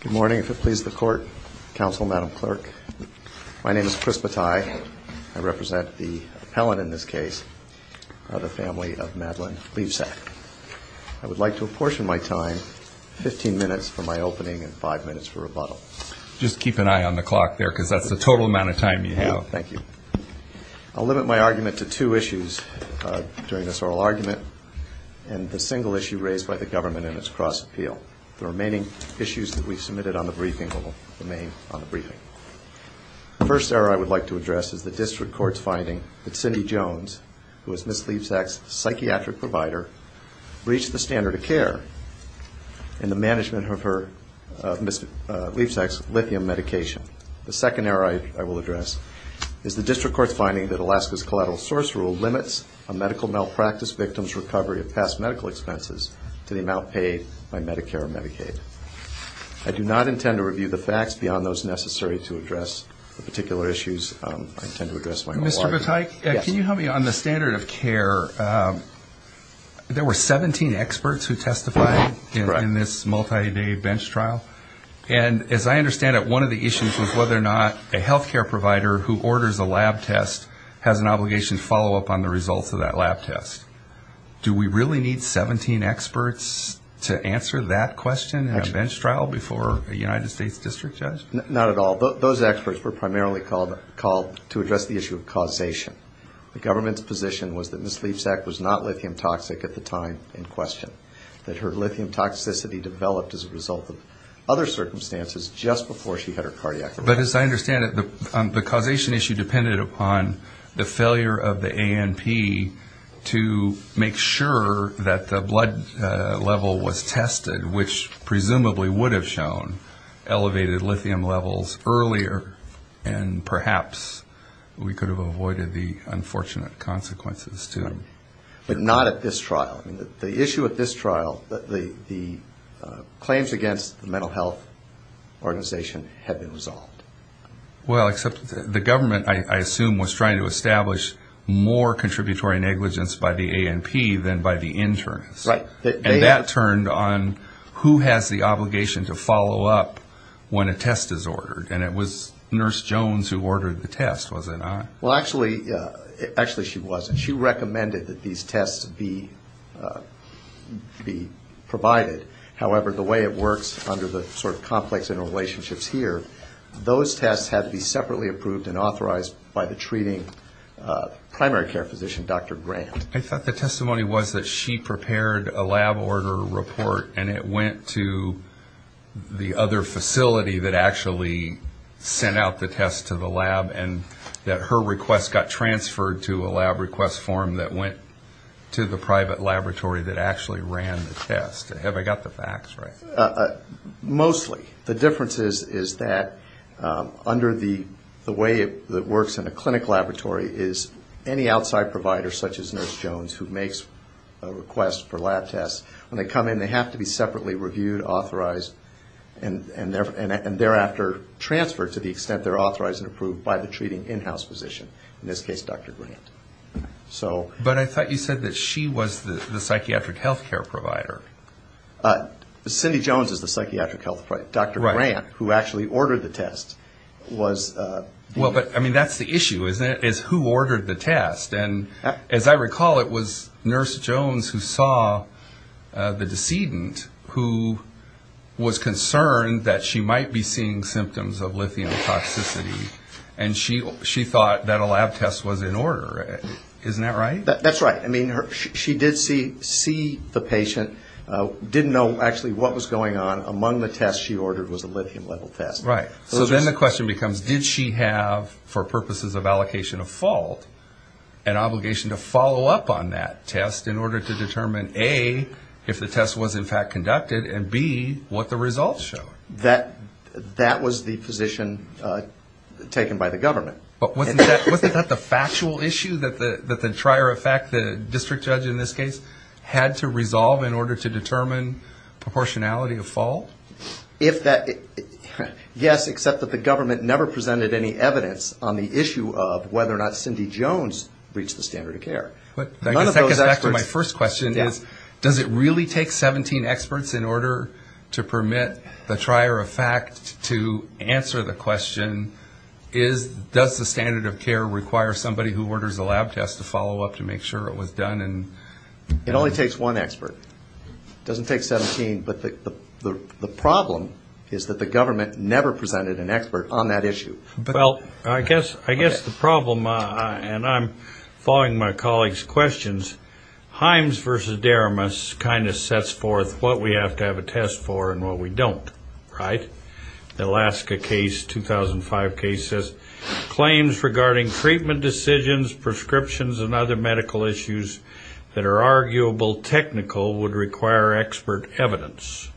Good morning. If it pleases the Court, Counsel, Madam Clerk, my name is Chris Bataille. I represent the appellant in this case, the family of Madeline Liebsack. I would like to apportion my time, 15 minutes for my opening and 5 minutes for rebuttal. Just keep an eye on the clock there because that's the total amount of time you have. Thank you. I'll limit my argument to two issues during this oral argument and the single issue raised by the government in its cross-appeal. The remaining issues that we've submitted on the briefing will remain on the briefing. The first error I would like to address is the district court's finding that Cindy Jones, who is Ms. Liebsack's psychiatric provider, breached the standard of care in the management of her, of Ms. Liebsack's lithium medication. The second error I will address is the district court's finding that Alaska's collateral source rule limits a medical malpractice victim's recovery of past medical expenses to the amount paid by Medicare or Medicaid. I do not intend to review the facts beyond those necessary to address the particular issues. I intend to address my own argument. Mr. Bataille, can you help me on the standard of care? There were 17 experts who testified in this multi-day bench trial, and as I understand it, one of the issues was whether or not a health care provider who orders a lab test has an obligation to follow up on the results of that lab test. Do we really need 17 experts to answer that question in a bench trial before a United States district judge? Not at all. Those experts were primarily called to address the issue of causation. The government's position was that Ms. Liebsack was not lithium toxic at the time in question, that her lithium toxicity developed as a result of other circumstances just before she had her cardiac arrest. But as I understand it, the to make sure that the blood level was tested, which presumably would have shown elevated lithium levels earlier, and perhaps we could have avoided the unfortunate consequences, too. But not at this trial. The issue at this trial, the claims against the mental health organization have been resolved. Well, except the government, I assume, was trying to establish more contributory negligence by the ANP than by the internists. And that turned on who has the obligation to follow up when a test is ordered. And it was Nurse Jones who ordered the test, was it not? Well, actually she wasn't. She recommended that these tests be provided. However, the way it works under the sort of complex interrelationships here, those tests had to be separately approved and granted. I thought the testimony was that she prepared a lab order report and it went to the other facility that actually sent out the test to the lab and that her request got transferred to a lab request form that went to the private laboratory that actually ran the test. Have I got the facts right? Mostly. The difference is that under the way it works in a clinic laboratory is any outside provider such as Nurse Jones who makes a request for lab tests, when they come in, they have to be separately reviewed, authorized, and thereafter transferred to the extent they're authorized and approved by the treating in-house physician, in this case, Dr. Grant. But I thought you said that she was the psychiatric health care provider. Cindy Jones is the psychiatric health provider. Dr. Grant, who actually ordered the test, was... Well, but I mean, that's the issue, isn't it, is who ordered the test? And as I recall, it was Nurse Jones who saw the decedent who was concerned that she might be seeing symptoms of lithium toxicity and she thought that a lab test was in order. Isn't that right? That's right. I mean, she did see the patient, didn't know actually what was going on. Among the tests she ordered was a lithium-level test. Right. So then the question becomes, did she have, for purposes of allocation of fault, an obligation to follow up on that test in order to determine, A, if the test was in fact conducted and, B, what the results show? That was the position taken by the government. But wasn't that the factual issue that the trier of fact, the district judge in this case, had to resolve in order to determine proportionality of fault? If that, yes, except that the government never presented any evidence on the issue of whether or not Cindy Jones reached the standard of care. But I guess that gets back to my first question is, does it really take 17 experts in order to permit the trier of fact to answer the question, does the standard of care require somebody who orders a lab test to follow up to make sure it was done? It only takes one expert. It doesn't take 17, but the problem is that the government never presented an expert on that issue. Well, I guess the problem, and I'm following my colleague's questions, Himes versus Deramis kind of sets forth what we have to have a test for and what we don't, right? The Alaska case, 2005 case, says, claims regarding treatment decisions, prescriptions, and other medical issues that are arguable technical would require expert evidence.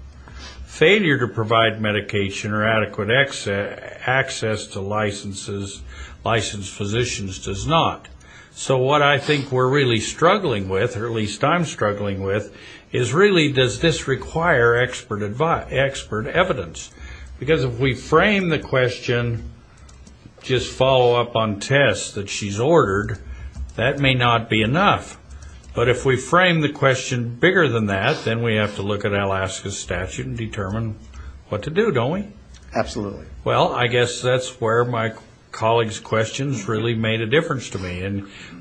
Failure to provide medication or adequate access to licensed physicians does not. So what I think we're really struggling with, or at least I'm struggling with, is really does this require expert advice, expert evidence? Because if we frame the question, just follow up on tests that she's ordered, that may not be enough. But if we frame the question bigger than that, then we have to look at Alaska's statute and determine what to do, don't we? Absolutely. Well, I guess that's where my colleague's questions really made a difference to me,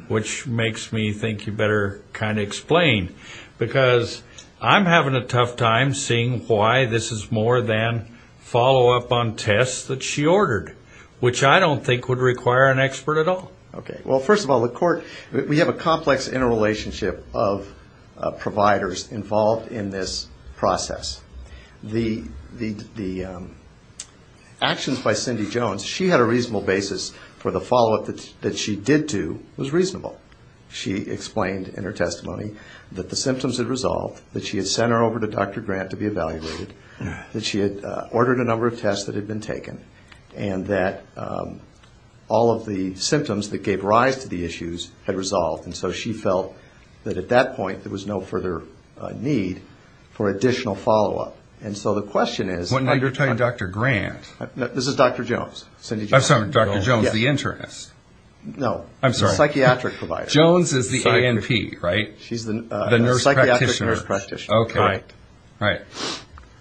which makes me think you better kind of explain. Because I'm having a tough time seeing why this is more than follow up on tests that she ordered, which I don't think would require an expert at all. Okay. Well, first of all, the court, we have a complex interrelationship of providers involved in this process. The actions by Cindy Jones, she had a reasonable basis for the follow up that she did do was reasonable. She explained in her testimony that the symptoms had resolved, that she had sent her over to Dr. Grant to be evaluated, that she had ordered a number of tests that had been taken, and that all of the symptoms that gave rise to the issues had resolved. And so she felt that at that point there was no further need for additional follow up. And so the question is... What number are you talking about, Dr. Grant? This is Dr. Jones. I'm sorry, Dr. Jones, the internist. No. I'm sorry. Psychiatric provider. Jones is the A&P, right? She's the... The nurse practitioner. Psychiatric nurse practitioner. Okay. Right.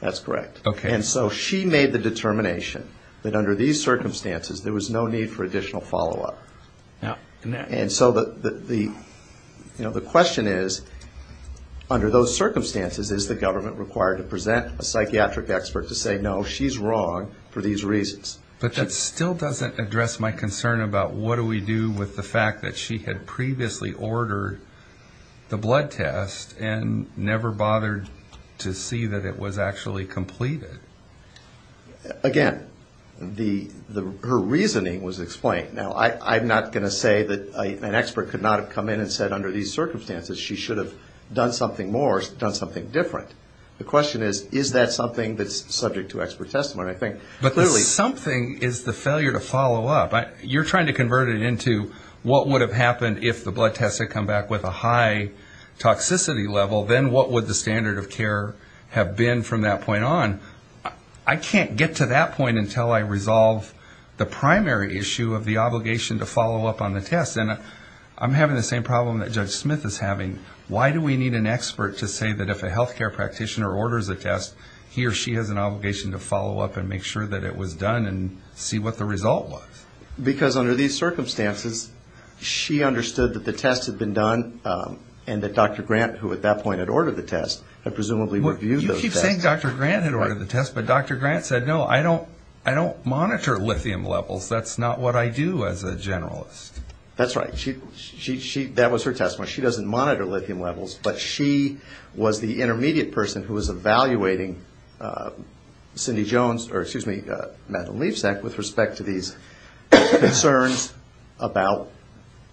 That's correct. Okay. And so she made the determination that under these circumstances there was no need for additional follow up. And so the question is, under those circumstances is the government required to present a psychiatric expert to say no, she's wrong for these reasons? But that still doesn't address my concern about what do we do with the fact that she had previously ordered the blood test and never bothered to see that it was actually completed. Again, her reasoning was explained. Now, I'm not going to say that an expert could not have come in and said under these circumstances she should have done something more, done something different. The question is, is that something that's subject to expert testimony? I think... But the something is the failure to follow up. You're trying to convert it into what would have happened if the blood test had come back with a high score. But then from that point on, I can't get to that point until I resolve the primary issue of the obligation to follow up on the test. And I'm having the same problem that Judge Smith is having. Why do we need an expert to say that if a healthcare practitioner orders a test, he or she has an obligation to follow up and make sure that it was done and see what the result was? Because under these circumstances, she understood that the test had been done, and that Dr. Grant, who at that point had ordered the test, had presumably reviewed those tests. You keep saying Dr. Grant had ordered the test, but Dr. Grant said, no, I don't monitor lithium levels. That's not what I do as a generalist. That's right. That was her testimony. She doesn't monitor lithium levels, but she was the intermediate person who was evaluating Cindy Jones, or excuse me, Madeline Levesack, with respect to these concerns about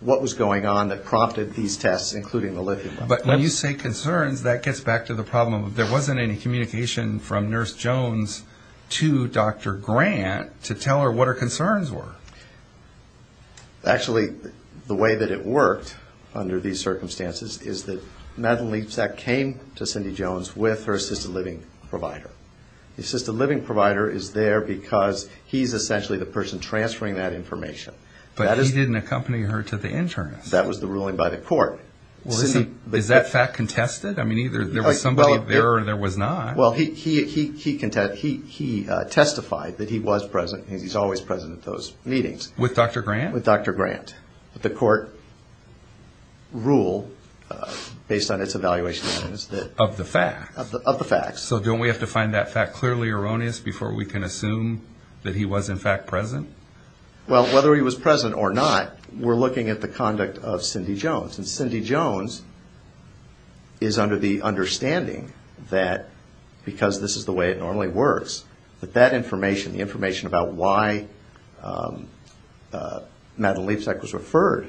what was going on that prompted these tests, including the lithium level. But when you say concerns, that gets back to the problem of there wasn't any communication from Nurse Jones to Dr. Grant to tell her what her concerns were. Actually, the way that it worked under these circumstances is that Madeline Levesack came to Cindy Jones with her assisted living provider. The assisted living provider is there because he's essentially the person transferring that information. But he didn't accompany her to the internist. That was the ruling by the court. Is that fact contested? I mean, either there was somebody there or there was not. Well, he testified that he was present. He's always present at those meetings. With Dr. Grant? With Dr. Grant. But the court ruled, based on its evaluation evidence, that... Of the facts. Of the facts. So don't we have to find that fact clearly erroneous before we can assume that he was, in fact, present? Well, whether he was present or not, we're looking at the conduct of Cindy Jones. And Cindy Jones is under the understanding that, because this is the way it normally works, that that information, the information about why Madeline Levesack was referred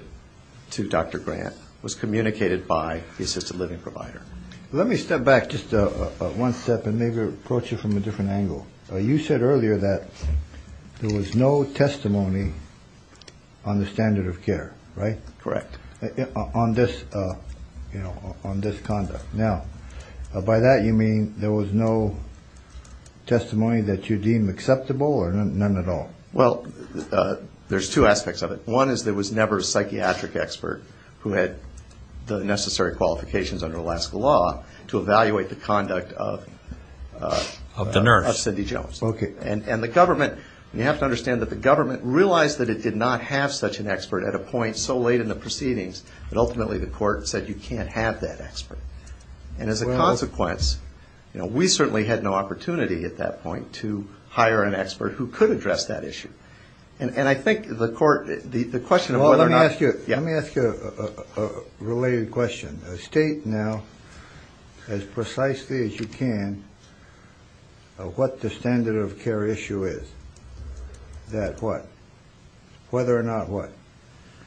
to Dr. Grant was communicated by the assisted living provider. Let me step back just one step and maybe approach it from a different angle. You said earlier that there was no testimony on the standard of care, right? Correct. On this conduct. Now, by that you mean there was no testimony that you deem acceptable or none at all? Well, there's two aspects of it. One is there was never a psychiatric expert who had the necessary qualifications under Alaska law to evaluate the conduct of... Of the nurse. Of Cindy Jones. Okay. And the government, you have to understand that the government realized that it did not have such an expert at a point so late in the proceedings that ultimately the court said you can't have that expert. And as a consequence, we certainly had no opportunity at that point to hire an expert who could address that issue. And I think the court, the question of whether or not... Well, let me ask you a related question. State now as precisely as you can what the standard of care issue is. That what? Whether or not what?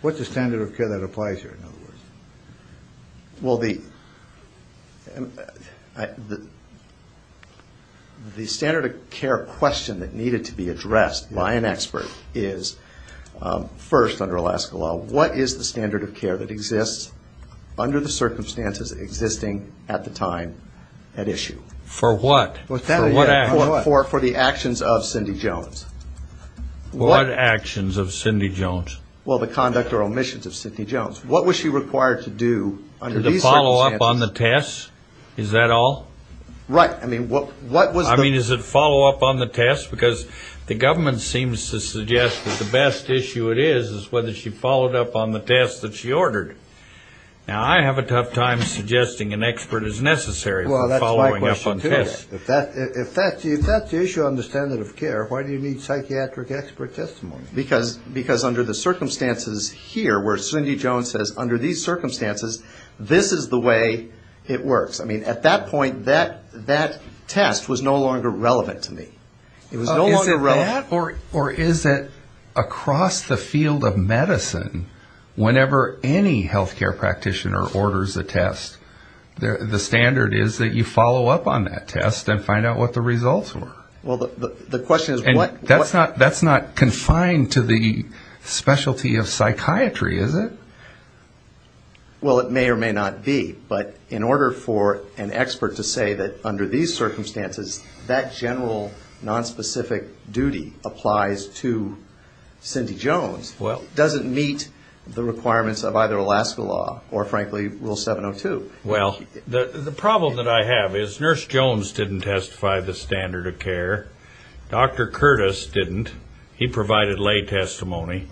What's the standard of care that applies here, in other words? Well, the standard of care question that needed to be addressed by an expert is, first under Alaska law, what is the standard of care that exists under the circumstances existing at the time at issue? For what? For the actions of Cindy Jones. What actions of Cindy Jones? Well, the conduct or omissions of Cindy Jones. What was she required to do under these circumstances? To follow up on the test? Is that all? Right. I mean, what was the... I mean, is it follow up on the test? Because the government seems to suggest that the best issue it is is whether she followed up on the test that she ordered. Now, I have a tough time suggesting an expert is necessary for following up on tests. Well, that's my question, too. If that's the issue on the standard of care, why do you need psychiatric expert testimony? Because under the circumstances here where Cindy Jones says, under these circumstances, this is the way it works. I mean, at that point, that test was no longer relevant to me. It was no longer relevant. Is that or is it across the field of medicine, whenever any health care practitioner orders a test, the standard is that you follow up on that test and find out what the results were? Well, the question is what... That's not confined to the specialty of psychiatry, is it? Well, it may or may not be. But in order for an expert to say that under these circumstances, that general nonspecific duty applies to Cindy Jones, doesn't meet the requirements of either Alaska law or, frankly, Rule 702. Well, the problem that I have is Nurse Jones didn't testify the standard of care. Dr. Curtis didn't. He provided lay testimony.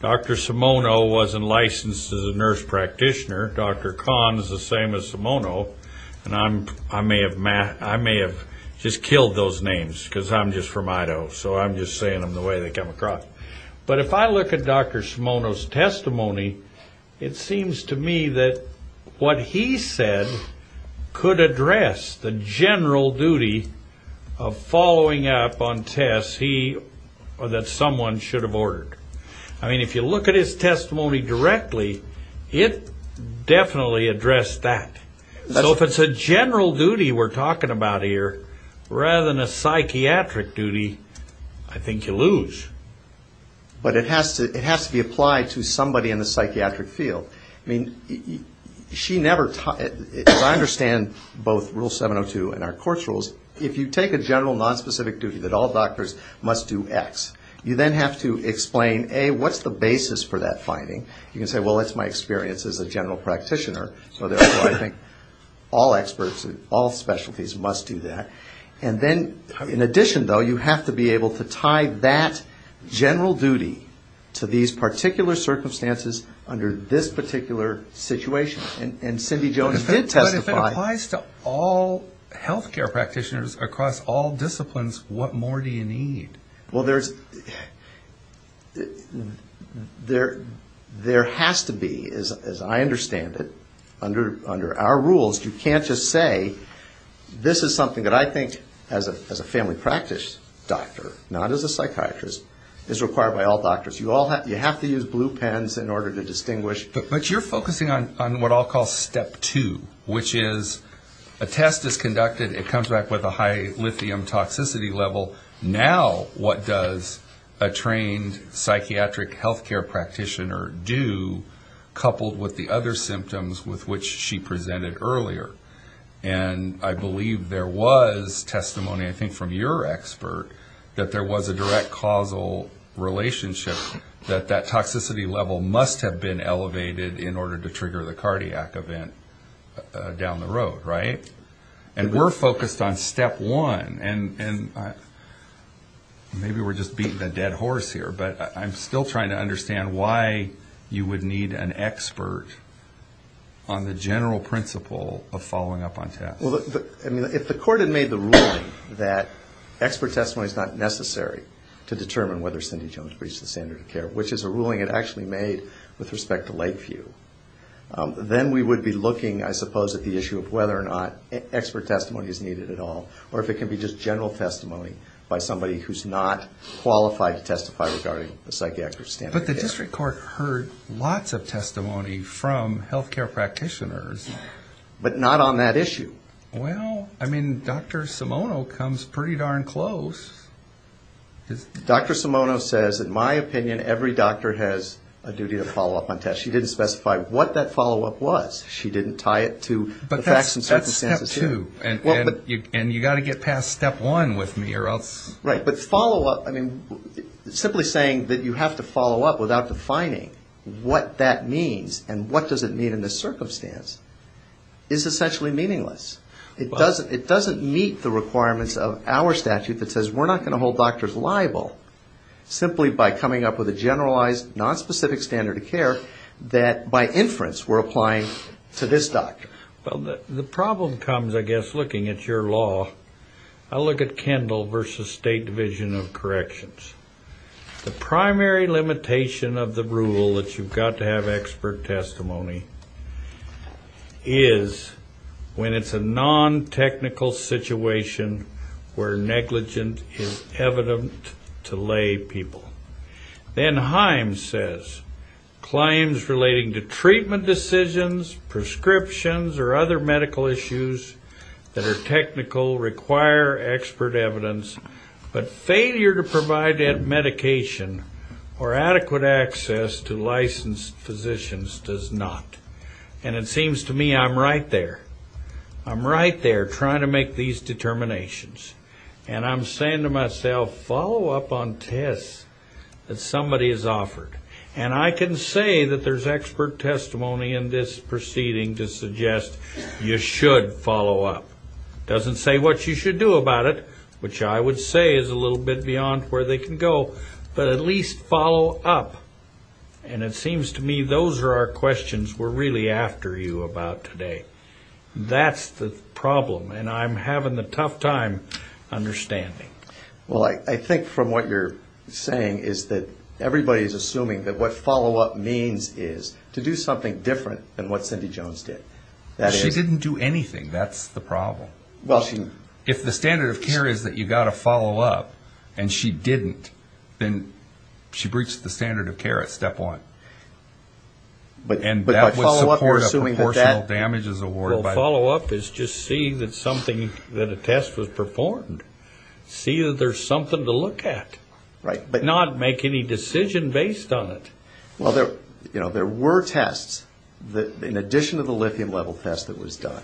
Dr. Simono wasn't licensed as a nurse practitioner. Dr. Kahn is the same as Simono. And I may have just killed those names because I'm just from Idaho, so I'm just saying them the way they come across. But if I look at Dr. Simono's testimony, it seems to me that what he said could address the general duty of following up on tests that someone should have ordered. I mean, if you look at his testimony directly, it definitely addressed that. So if it's a general duty we're talking about here rather than a psychiatric duty, I think you lose. But it has to be applied to somebody in the psychiatric field. I mean, she never taught it. As I understand both Rule 702 and our court's rules, if you take a general nonspecific duty that all doctors must do X, you then have to explain, A, what's the basis for that finding. You can say, well, it's my experience as a general practitioner, so therefore I think all experts, all specialties must do that. And then in addition, though, you have to be able to tie that general duty to these particular circumstances under this particular situation. And Cindy Jones did testify. But if it applies to all health care practitioners across all disciplines, what more do you need? Well, there has to be, as I understand it, under our rules, you can't just say this is something that I think as a family practice doctor, not as a psychiatrist, is required by all doctors. You have to use blue pens in order to distinguish. But you're focusing on what I'll call step two, which is a test is conducted, it comes back with a high lithium toxicity level. Now what does a trained psychiatric health care practitioner do, coupled with the other symptoms with which she presented earlier? And I believe there was testimony, I think from your expert, that there was a direct causal relationship that that toxicity level must have been elevated in order to trigger the cardiac event down the road, right? And we're focused on step one. And maybe we're just beating a dead horse here, but I'm still trying to understand why you would need an expert on the general principle of following up on tests. If the court had made the ruling that expert testimony is not necessary to determine whether Cindy Jones breached the standard of care, which is a ruling it actually made with respect to Lakeview, then we would be looking, I suppose, at the issue of whether or not expert testimony is needed at all, or if it can be just general testimony by somebody who's not qualified to testify regarding the psychiatric standard of care. But the district court heard lots of testimony from health care practitioners. But not on that issue. Well, I mean, Dr. Simono comes pretty darn close. Dr. Simono says, in my opinion, every doctor has a duty to follow up on tests. She didn't specify what that follow-up was. She didn't tie it to the facts and circumstances. And you've got to get past step one with me, or else... Right, but follow-up, I mean, simply saying that you have to follow-up without defining what that means and what does it mean in this circumstance is essentially meaningless. It doesn't meet the requirements of our statute that says we're not going to hold doctors liable simply by coming up with a generalized, non-specific standard of care that by inference we're applying to this doctor. Well, the problem comes, I guess, looking at your law. I look at Kendall v. State Division of Corrections. The primary limitation of the rule that you've got to have expert testimony is when it's a non-technical situation where negligence is evident to lay people. Then Himes says, claims relating to treatment decisions, prescriptions, or other medical issues that are technical require expert evidence, but failure to provide that medication or adequate access to licensed physicians does not. And it seems to me I'm right there. I'm right there trying to make these determinations. And I'm saying to myself, follow-up on tests that somebody has offered. And I can say that there's expert testimony in this proceeding to suggest you should follow-up. It doesn't say what you should do about it, which I would say is a little bit beyond where they can go, but at least follow-up. And it seems to me those are our questions we're really after you about today. But that's the problem, and I'm having a tough time understanding. Well, I think from what you're saying is that everybody is assuming that what follow-up means is to do something different than what Cindy Jones did. She didn't do anything. That's the problem. If the standard of care is that you've got to follow-up and she didn't, then she breached the standard of care at step one. But by follow-up you're assuming that that... Well, follow-up is just seeing that something, that a test was performed. See that there's something to look at, not make any decision based on it. Well, there were tests that, in addition to the lithium-level test that was done,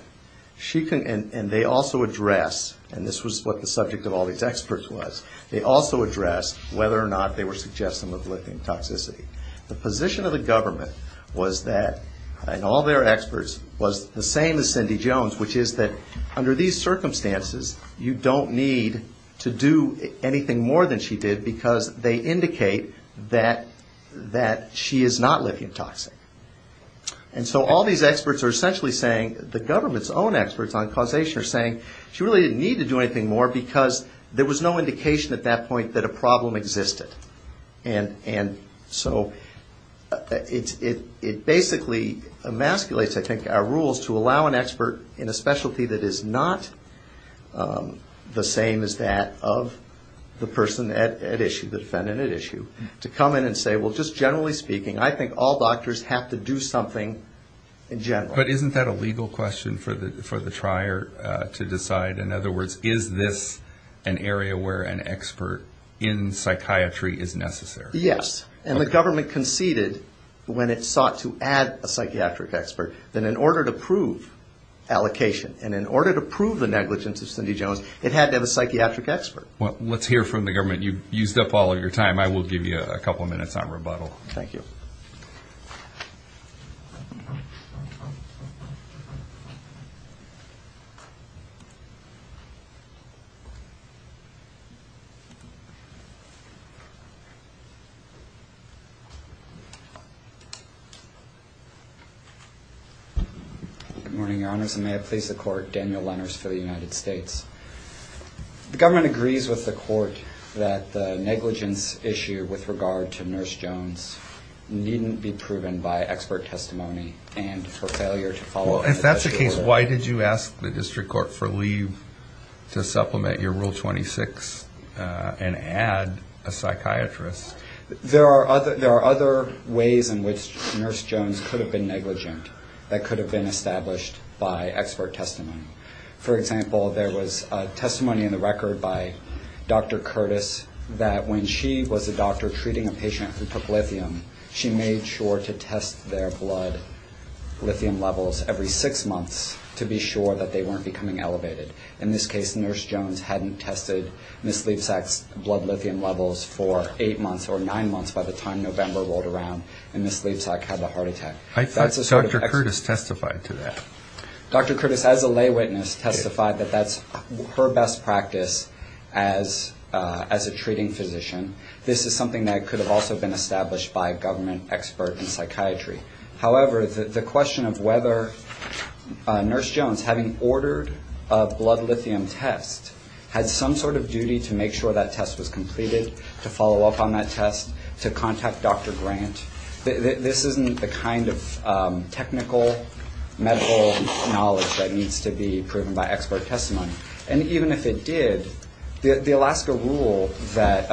and they also address, and this was what the subject of all these experts was, they also addressed whether or not they were suggesting lithium toxicity. The position of the government was that, and all their experts, was the same as Cindy Jones, which is that under these circumstances you don't need to do anything more than she did because they indicate that she is not lithium toxic. And so all these experts are essentially saying, the government's own experts on causation are saying she really didn't need to do anything more because there was no indication at that point that a problem existed. And so it basically emasculates, I think, our rules to allow an expert in a specialty that is not the same as that of the person at issue, the defendant at issue, to come in and say, well, just generally speaking, I think all doctors have to do something in general. But isn't that a legal question for the trier to decide? In other words, is this an area where an expert in psychiatry is necessary? Yes, and the government conceded when it sought to add a psychiatric expert that in order to prove allocation and in order to prove the negligence of Cindy Jones, it had to have a psychiatric expert. Well, let's hear from the government. You've used up all of your time. I will give you a couple of minutes on rebuttal. Thank you. Good morning, Your Honors, and may it please the Court. Daniel Lenners for the United States. The government agrees with the Court that the negligence issue with regard to Nurse Jones needn't be proven by expert testimony and for failure to follow up. Well, if that's the case, why did you ask the district court for leave? To supplement your Rule 26 and add a psychiatrist. There are other ways in which Nurse Jones could have been negligent that could have been established by expert testimony. For example, there was testimony in the record by Dr. Curtis that when she was a doctor treating a patient who took lithium, she made sure to test their blood lithium levels every six months to be sure that they weren't becoming elevated. In this case, Nurse Jones hadn't tested Ms. Leibsack's blood lithium levels for eight months or nine months by the time November rolled around and Ms. Leibsack had the heart attack. I thought Dr. Curtis testified to that. Dr. Curtis, as a lay witness, testified that that's her best practice as a treating physician. This is something that could have also been established by a government expert in psychiatry. However, the question of whether Nurse Jones, having ordered a blood lithium test, had some sort of duty to make sure that test was completed, to follow up on that test, to contact Dr. Grant, this isn't the kind of technical medical knowledge that needs to be proven by expert testimony. And even if it did, the Alaska Rule that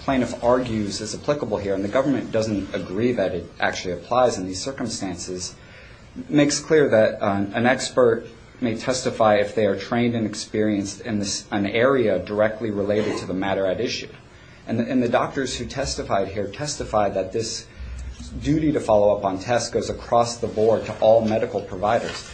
plaintiff argues is applicable here, and the government doesn't agree that it actually applies in these circumstances, makes clear that an expert may testify if they are trained and experienced in an area directly related to the matter at issue. And the doctors who testified here testified that this duty to follow up on tests goes across the board to all medical providers.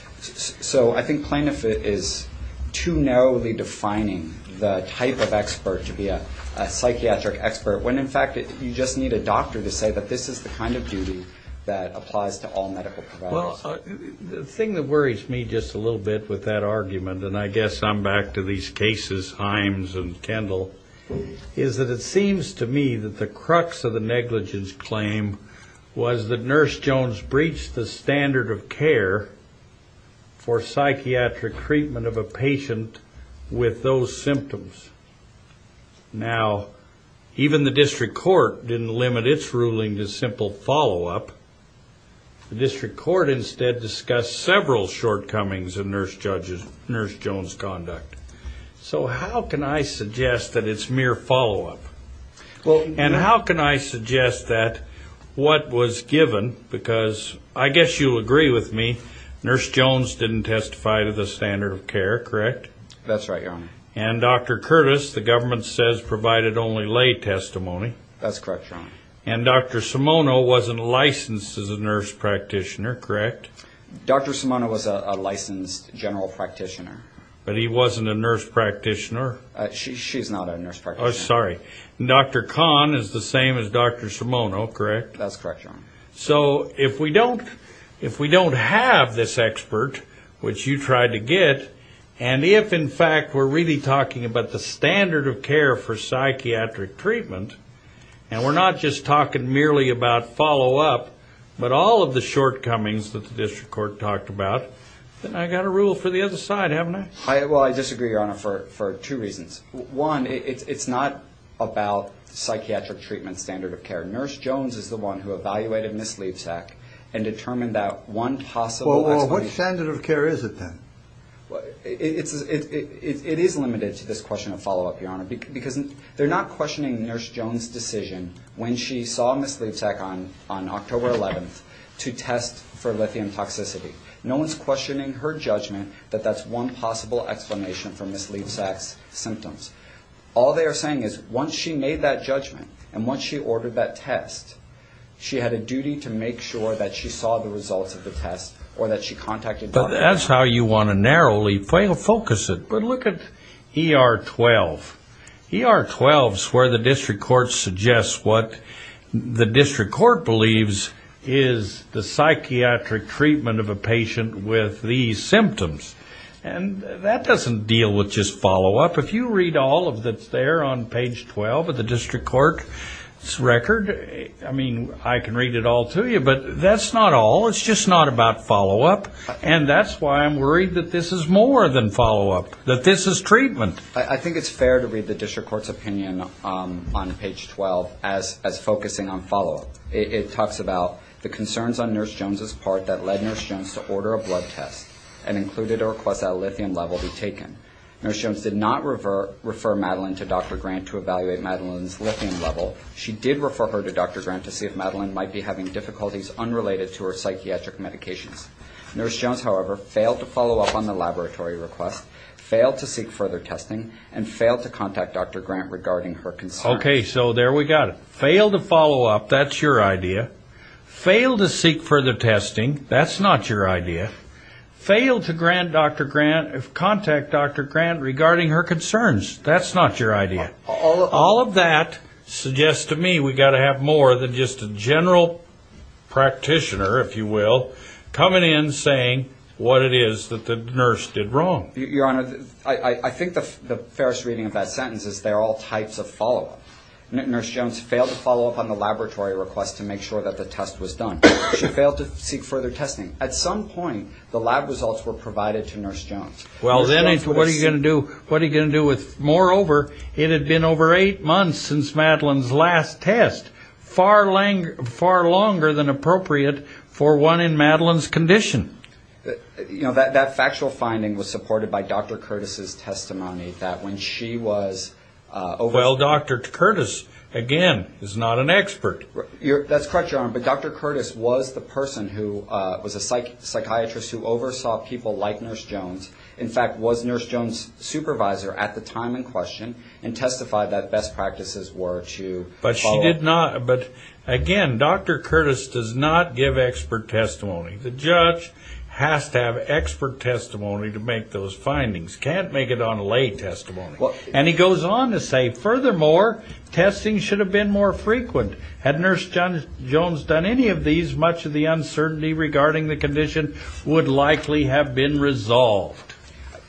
So I think plaintiff is too narrowly defining the type of expert to be a psychiatric expert, when in fact you just need a doctor to say that this is the kind of duty that applies to all medical providers. Well, the thing that worries me just a little bit with that argument, and I guess I'm back to these cases, Himes and Kendall, is that it seems to me that the crux of the negligence claim was that Nurse Jones breached the standard of care for psychiatric treatment of a patient with those symptoms. Now, even the district court didn't limit its ruling to simple follow-up. The district court instead discussed several shortcomings in Nurse Jones' conduct. So how can I suggest that it's mere follow-up? And how can I suggest that what was given, because I guess you'll agree with me, Nurse Jones didn't testify to the standard of care, correct? That's right, Your Honor. And Dr. Curtis, the government says, provided only lay testimony. That's correct, Your Honor. And Dr. Simoneau wasn't licensed as a nurse practitioner, correct? Dr. Simoneau was a licensed general practitioner. But he wasn't a nurse practitioner? She's not a nurse practitioner. Oh, sorry. And Dr. Kahn is the same as Dr. Simoneau, correct? That's correct, Your Honor. So if we don't have this expert, which you tried to get, and if, in fact, we're really talking about the standard of care for psychiatric treatment, and we're not just talking merely about follow-up, but all of the shortcomings that the district court talked about, then I've got a rule for the other side, haven't I? Well, I disagree, Your Honor, for two reasons. One, it's not about the psychiatric treatment standard of care. Nurse Jones is the one who evaluated Ms. Levesack and determined that one possible explanation... Nurse Jones' decision when she saw Ms. Levesack on October 11th to test for lithium toxicity. No one's questioning her judgment that that's one possible explanation for Ms. Levesack's symptoms. All they are saying is once she made that judgment and once she ordered that test, she had a duty to make sure that she saw the results of the test or that she contacted Dr. Simoneau. But that's how you want to narrowly focus it. But look at ER 12. ER 12 is where the district court suggests what the district court believes is the psychiatric treatment of a patient with these symptoms. And that doesn't deal with just follow-up. If you read all of what's there on page 12 of the district court's record, I mean, I can read it all to you, but that's not all. It's just not about follow-up, and that's why I'm worried that this is more than follow-up, that this is treatment. I think it's fair to read the district court's opinion on page 12 as focusing on follow-up. It talks about the concerns on Nurse Jones' part that led Nurse Jones to order a blood test and included a request that a lithium level be taken. Nurse Jones did not refer Madeline to Dr. Grant to evaluate Madeline's lithium level. She did refer her to Dr. Grant to see if Madeline might be having difficulties unrelated to her psychiatric medications. Nurse Jones, however, failed to follow up on the laboratory request, failed to seek further testing, and failed to contact Dr. Grant regarding her concerns. Okay, so there we got it. Failed to follow up, that's your idea. Failed to seek further testing, that's not your idea. Failed to contact Dr. Grant regarding her concerns, that's not your idea. All of that suggests to me we've got to have more than just a general practitioner, if you will, coming in saying what it is that the nurse did wrong. Your Honor, I think the fairest reading of that sentence is there are all types of follow-up. Nurse Jones failed to follow up on the laboratory request to make sure that the test was done. She failed to seek further testing. At some point, the lab results were provided to Nurse Jones. Well, then what are you going to do? Moreover, it had been over eight months since Madeline's last test, far longer than appropriate for one in Madeline's condition. You know, that factual finding was supported by Dr. Curtis' testimony that when she was... Well, Dr. Curtis, again, is not an expert. That's correct, Your Honor, but Dr. Curtis was the person who was a psychiatrist who oversaw people like Nurse Jones. In fact, was Nurse Jones' supervisor at the time in question, and testified that best practices were to follow... But, again, Dr. Curtis does not give expert testimony. The judge has to have expert testimony to make those findings. Can't make it on a laid testimony. And he goes on to say, furthermore, testing should have been more frequent. Had Nurse Jones done any of these, much of the uncertainty regarding the condition would likely have been resolved.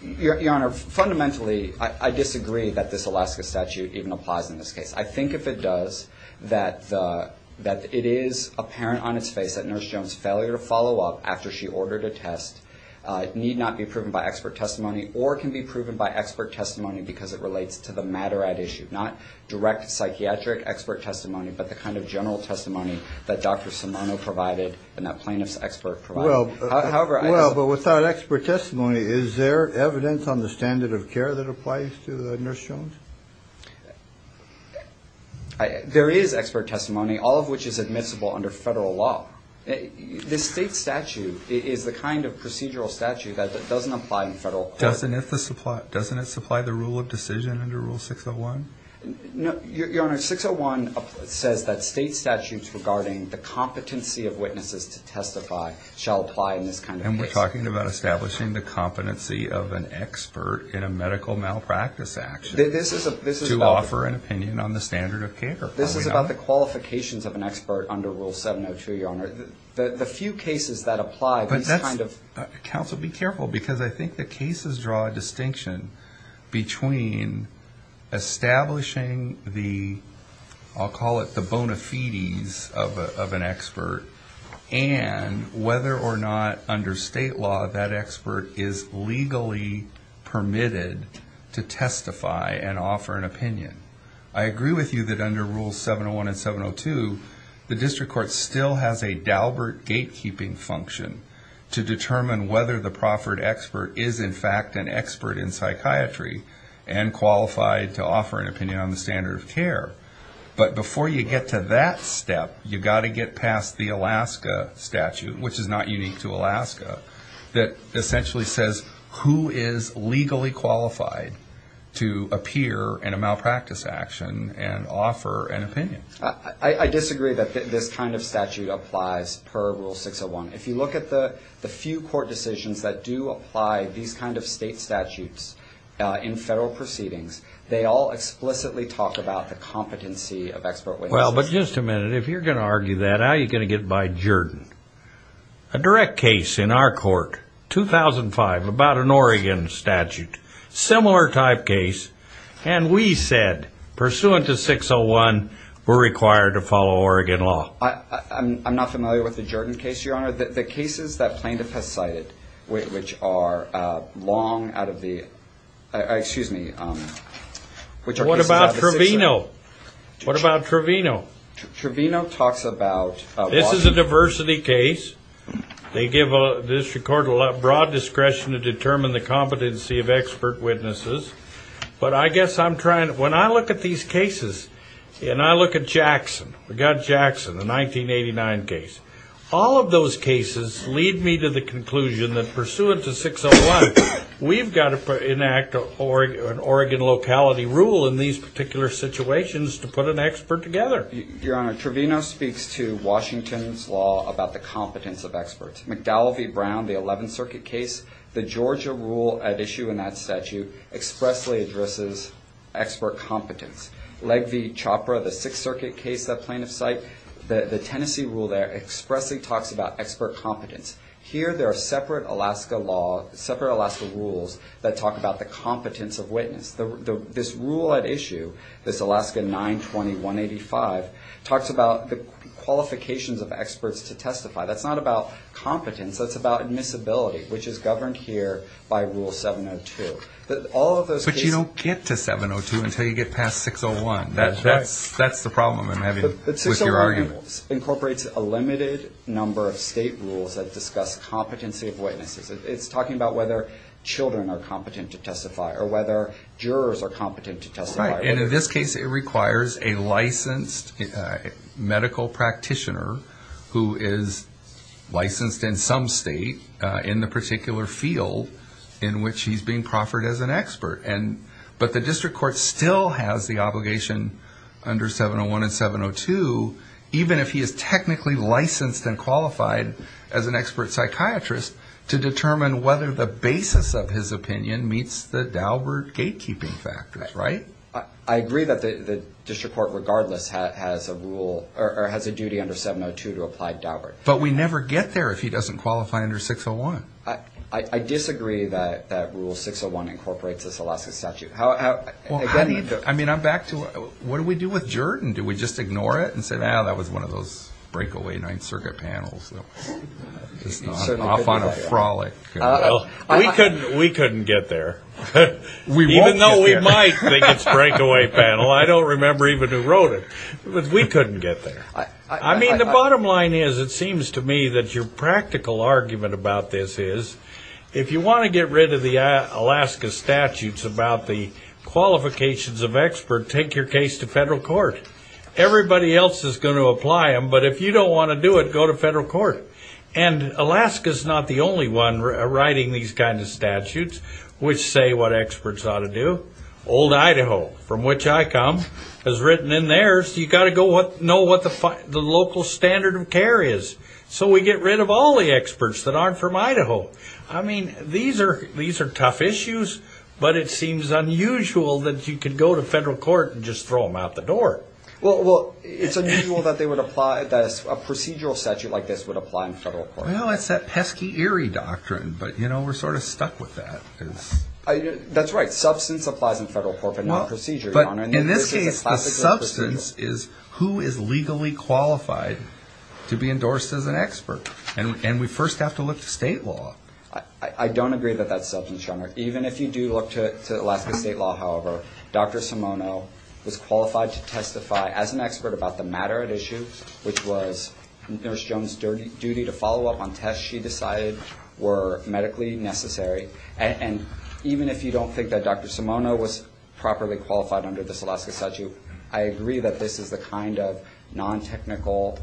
Your Honor, fundamentally, I disagree that this Alaska statute even applies in this case. I think if it does, that it is apparent on its face that Nurse Jones' failure to follow up after she ordered a test need not be proven by expert testimony or can be proven by expert testimony because it relates to the matter at issue, not direct psychiatric expert testimony, but the kind of general testimony that Dr. Simoneau provided and that plaintiff's expert provided. Well, but without expert testimony, is there evidence on the standard of care that applies to Nurse Jones? There is expert testimony, all of which is admissible under federal law. The state statute is the kind of procedural statute that doesn't apply in federal court. Doesn't it supply the rule of decision under Rule 601? Your Honor, 601 says that state statutes regarding the competency of witnesses to testify shall apply in this kind of case. And we're talking about establishing the competency of an expert in a medical malpractice action to offer an opinion on the standard of care, are we not? This is about the qualifications of an expert under Rule 702, Your Honor. The few cases that apply, these kind of... Counsel, be careful, because I think the cases draw a distinction between establishing the, I'll call it the bona fides of an expert, and whether or not under state law that expert is legally permitted to testify and offer an opinion. I agree with you that under Rule 701 and 702, the district court still has a Daubert gatekeeping function to determine whether the proffered expert is in fact an expert in psychiatry and qualified to offer an opinion on the standard of care. But before you get to that step, you've got to get past the Alaska statute, which is not unique to Alaska, that essentially says who is legally qualified to appear in a malpractice action. I disagree that this kind of statute applies per Rule 601. If you look at the few court decisions that do apply these kind of state statutes in federal proceedings, they all explicitly talk about the competency of expert witnesses. Well, but just a minute, if you're going to argue that, how are you going to get by Jordan? A direct case in our court, 2005, about an Oregon statute, similar type case, and we said, pursuant to 601, we're required to follow Oregon law. I'm not familiar with the Jordan case, Your Honor. The cases that plaintiff has cited, which are long out of the, excuse me. What about Trevino? What about Trevino? Trevino talks about... This is a diversity case. They give the district court broad discretion to determine the competency of expert witnesses. But I guess I'm trying, when I look at these cases, and I look at Jackson, we've got Jackson, the 1989 case. All of those cases lead me to the conclusion that, pursuant to 601, we've got to enact an Oregon locality rule in these particular situations to put an expert together. Your Honor, Trevino speaks to Washington's law about the competence of experts. McDowell v. Brown, the 11th Circuit case, the Georgia rule at issue in that statute expressly addresses expert competence. Legge v. Chopra, the 6th Circuit case that plaintiff cite, the Tennessee rule there expressly talks about expert competence. Here there are separate Alaska rules that talk about the competence of witness. This rule at issue, this Alaska 920-185, talks about the qualifications of experts to testify. That's not about competence, that's about admissibility, which is governed here by Rule 702. But you don't get to 702 until you get past 601. That's the problem I'm having with your argument. But 601 incorporates a limited number of state rules that discuss competency of witnesses. It's talking about whether children are competent to testify or whether jurors are competent to testify. Right, and in this case it requires a licensed medical practitioner who is licensed in some state in the particular field in which he's being proffered as an expert. But the district court still has the obligation under 701 and 702, even if he is technically licensed and qualified as an expert psychiatrist, to determine whether the basis of his opinion meets the Daubert gatekeeping factors, right? I agree that the district court regardless has a duty under 702 to apply Daubert. But we never get there if he doesn't qualify under 601. I disagree that Rule 601 incorporates this Alaska statute. I mean, I'm back to what do we do with Jordan? Do we just ignore it and say, well, that was one of those breakaway Ninth Circuit panels. Off on a frolic. We couldn't get there. Even though we might think it's a breakaway panel, I don't remember even who wrote it. But we couldn't get there. I mean, the bottom line is, it seems to me that your practical argument about this is, if you want to get rid of the Alaska statutes about the qualifications of expert, take your case to federal court. Everybody else is going to apply them, but if you don't want to do it, go to federal court. And Alaska is not the only one writing these kinds of statutes, which say what experts ought to do. Old Idaho, from which I come, has written in theirs, you've got to know what the local standard of care is. So we get rid of all the experts that aren't from Idaho. I mean, these are tough issues, but it seems unusual that you could go to federal court and just throw them out the door. Well, it's unusual that a procedural statute like this would apply in federal court. Well, it's that pesky, eerie doctrine, but we're sort of stuck with that. That's right. Substance applies in federal court, but not procedure, Your Honor. But in this case, the substance is who is legally qualified to be endorsed as an expert. And we first have to look to state law. I don't agree that that's substance, Your Honor. Even if you do look to Alaska state law, however, Dr. Simono was qualified to testify as an expert about the matter at issue, which was Nurse Jones' duty to follow up on tests she decided were medically necessary. And even if you don't think that Dr. Simono was properly qualified under this Alaska statute, I agree that this is the kind of non-technical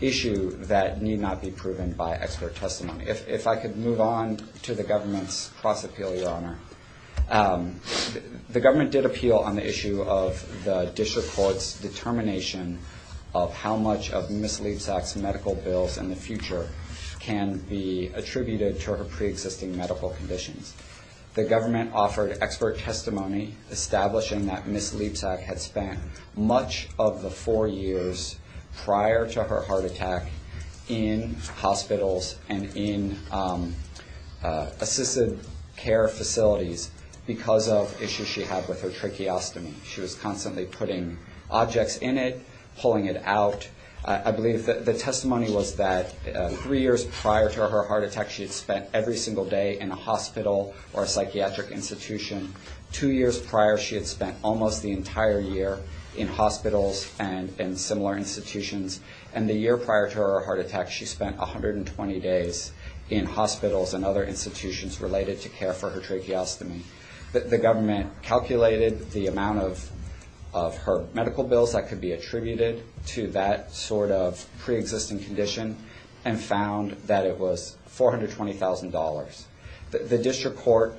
issue that need not be proven by expert testimony. If I could move on to the government's cross-appeal, Your Honor. The government did appeal on the issue of the district court's determination of how much of Ms. Leapsack's medical bills in the future can be attributed to her preexisting medical conditions. The government offered expert testimony establishing that Ms. Leapsack had spent much of the four years prior to her heart attack in hospitals and in assisted care facilities because of issues she had with her tracheostomy. She was constantly putting objects in it, pulling it out. I believe the testimony was that three years prior to her heart attack, she had spent every single day in a hospital or a psychiatric institution. Two years prior, she had spent almost the entire year in hospitals and in similar institutions. And the year prior to her heart attack, she spent 120 days in hospitals and other institutions related to care for her tracheostomy. The government calculated the amount of her medical bills that could be attributed to that sort of preexisting condition and found that it was $420,000. The district court,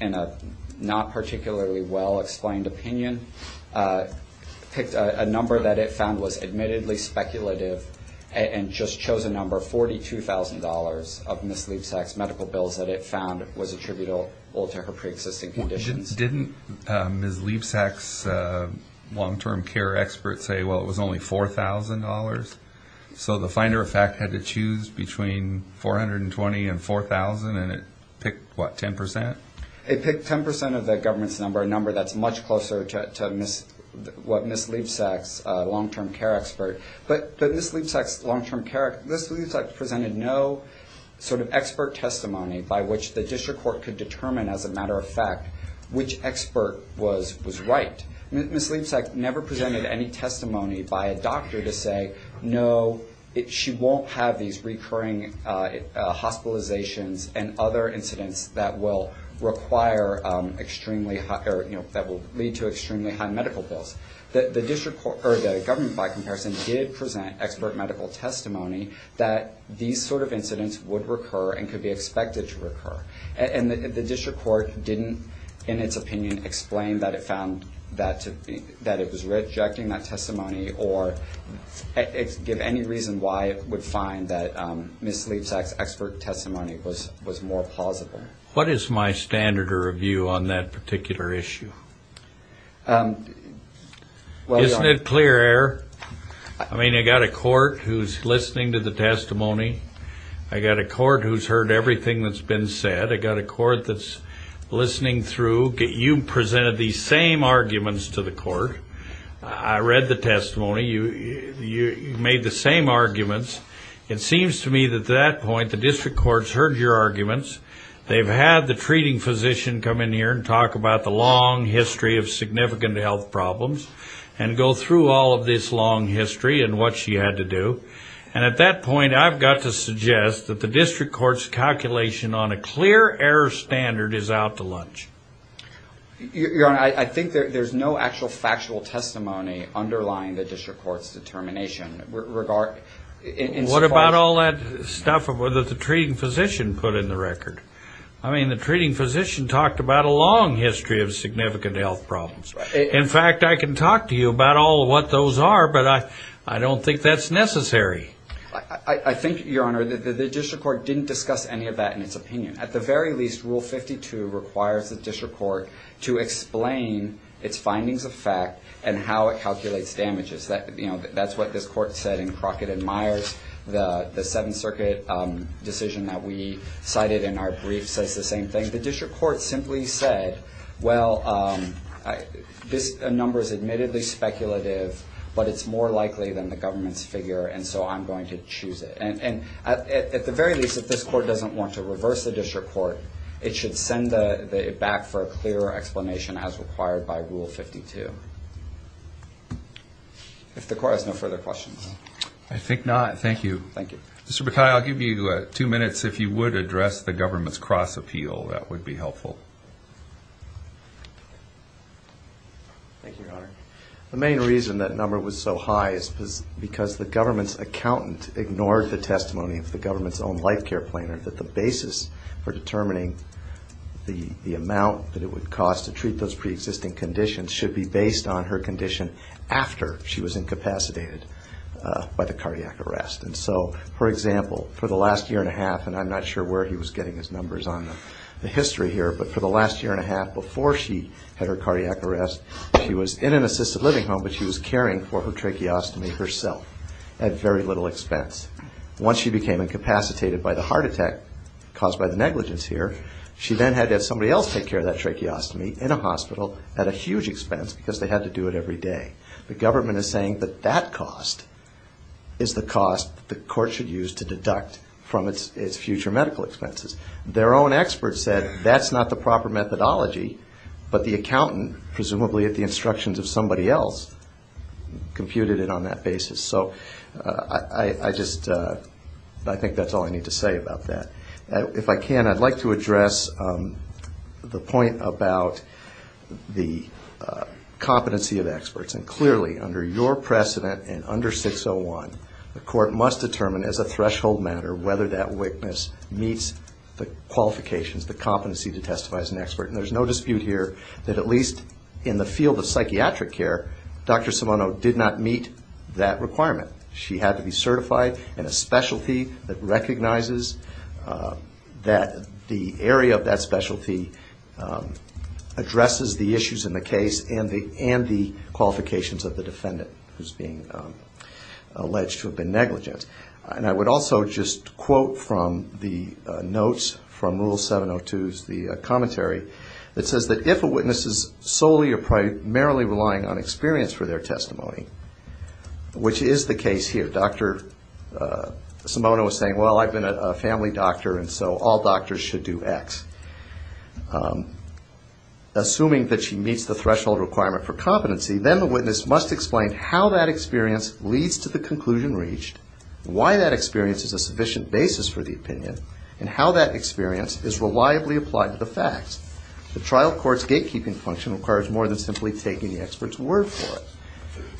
in a not particularly well-explained opinion, picked a number that it found was admittedly speculative and just chose a number, $42,000, of Ms. Leapsack's medical bills that it found was attributable to her preexisting conditions. Didn't Ms. Leapsack's long-term care expert say, well, it was only $4,000? So the finder of fact had to choose between $420,000 and $4,000, and it picked, what, 10%? It picked 10% of the government's number, a number that's much closer to what Ms. Leapsack's long-term care expert. But Ms. Leapsack's long-term care, Ms. Leapsack presented no sort of expert testimony by which the district court could determine, as a matter of fact, which expert was right. Ms. Leapsack never presented any testimony by a doctor to say, no, she won't have these recurring hospitalizations and other incidents that will require extremely, or that will lead to extremely high medical bills. The district court, or the government, by comparison, did present expert medical testimony that these sort of incidents would recur and could be expected to recur. And the district court didn't, in its opinion, explain that it found that it was rejecting that testimony or give any reason why it would find that Ms. Leapsack's expert testimony was more plausible. What is my standard of review on that particular issue? Isn't it clear, Er? I mean, I've got a court who's listening to the testimony. I've got a court who's heard everything that's been said. I've got a court that's listening through. You presented these same arguments to the court. I read the testimony. You made the same arguments. It seems to me that at that point, the district court's heard your arguments. They've had the treating physician come in here and talk about the long history of significant health problems and go through all of this long history and what she had to do. And at that point, I've got to suggest that the district court's calculation on a clear error standard is out to lunch. Your Honor, I think there's no actual factual testimony underlying the district court's determination. What about all that stuff that the treating physician put in the record? I mean, the treating physician talked about a long history of significant health problems. In fact, I can talk to you about all of what those are, but I don't think that's necessary. I think, Your Honor, the district court didn't discuss any of that in its opinion. At the very least, Rule 52 requires the district court to explain its findings of fact and how it calculates damages. That's what this court said in Crockett and Myers. The Seventh Circuit decision that we cited in our brief says the same thing. The district court simply said, well, this number is admittedly speculative, but it's more likely than the government's figure, and so I'm going to choose it. And at the very least, if this court doesn't want to reverse the district court, it should send it back for a clearer explanation as required by Rule 52. If the court has no further questions. I think not. Thank you. Mr. Bakai, I'll give you two minutes. If you would address the government's cross-appeal, that would be helpful. Thank you, Your Honor. The main reason that number was so high is because the government's accountant ignored the testimony of the government's own life care planner that the basis for determining the amount that it would cost to treat those preexisting conditions should be based on her condition after she was incapacitated by the cardiac arrest. And so, for example, for the last year and a half, and I'm not sure where he was getting his numbers on the history here, but for the last year and a half before she had her cardiac arrest, she was in an assisted living home, but she was caring for her tracheostomy herself at very little expense. Once she became incapacitated by the heart attack caused by the negligence here, she then had to have somebody else take care of that tracheostomy in a hospital at a huge expense, because they had to do it every day. The government is saying that that cost is the cost that the court should use to deduct from its future medical expenses. Their own expert said that's not the proper methodology, but the accountant, presumably at the instructions of somebody else, computed it on that basis. So I just think that's all I need to say about that. If I can, I'd like to address the point about the competency of experts, because clearly under your precedent and under 601, the court must determine as a threshold matter whether that witness meets the qualifications, the competency to testify as an expert, and there's no dispute here that at least in the field of psychiatric care, Dr. Simonow did not meet that requirement. She had to be certified in a specialty that recognizes that the area of that specialty addresses the issues in the case and the qualifications of the defendant who's being alleged to have been negligent. And I would also just quote from the notes, from Rule 702's commentary, that says that if a witness is solely or primarily relying on experience for their testimony, which is the case here, Dr. Simonow is saying, well, I've been a family doctor and so all doctors should do X. Assuming that she meets the threshold requirement for competency, then the witness must explain how that experience leads to the conclusion reached, why that experience is a sufficient basis for the opinion, and how that experience is reliably applied to the facts. The trial court's gatekeeping function requires more than simply taking the expert's word for it.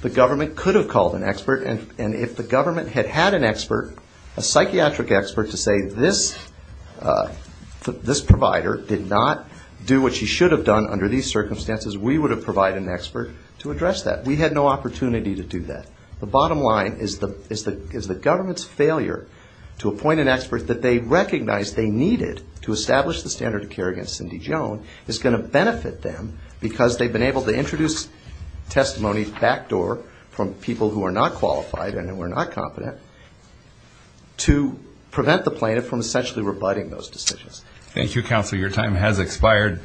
The government could have called an expert, and if the government had had an expert, a psychiatric expert, to say this provider did not do what she should have done under these circumstances, we would have provided an expert to address that. We had no opportunity to do that. The bottom line is the government's failure to appoint an expert that they recognize they needed to establish the standard of care against Cindy Joan is going to benefit them because they've been able to introduce testimony backdoor from people who are not qualified and who are not competent to prevent the plaintiff from essentially rebutting those decisions. Thank you, counsel. Your time has expired.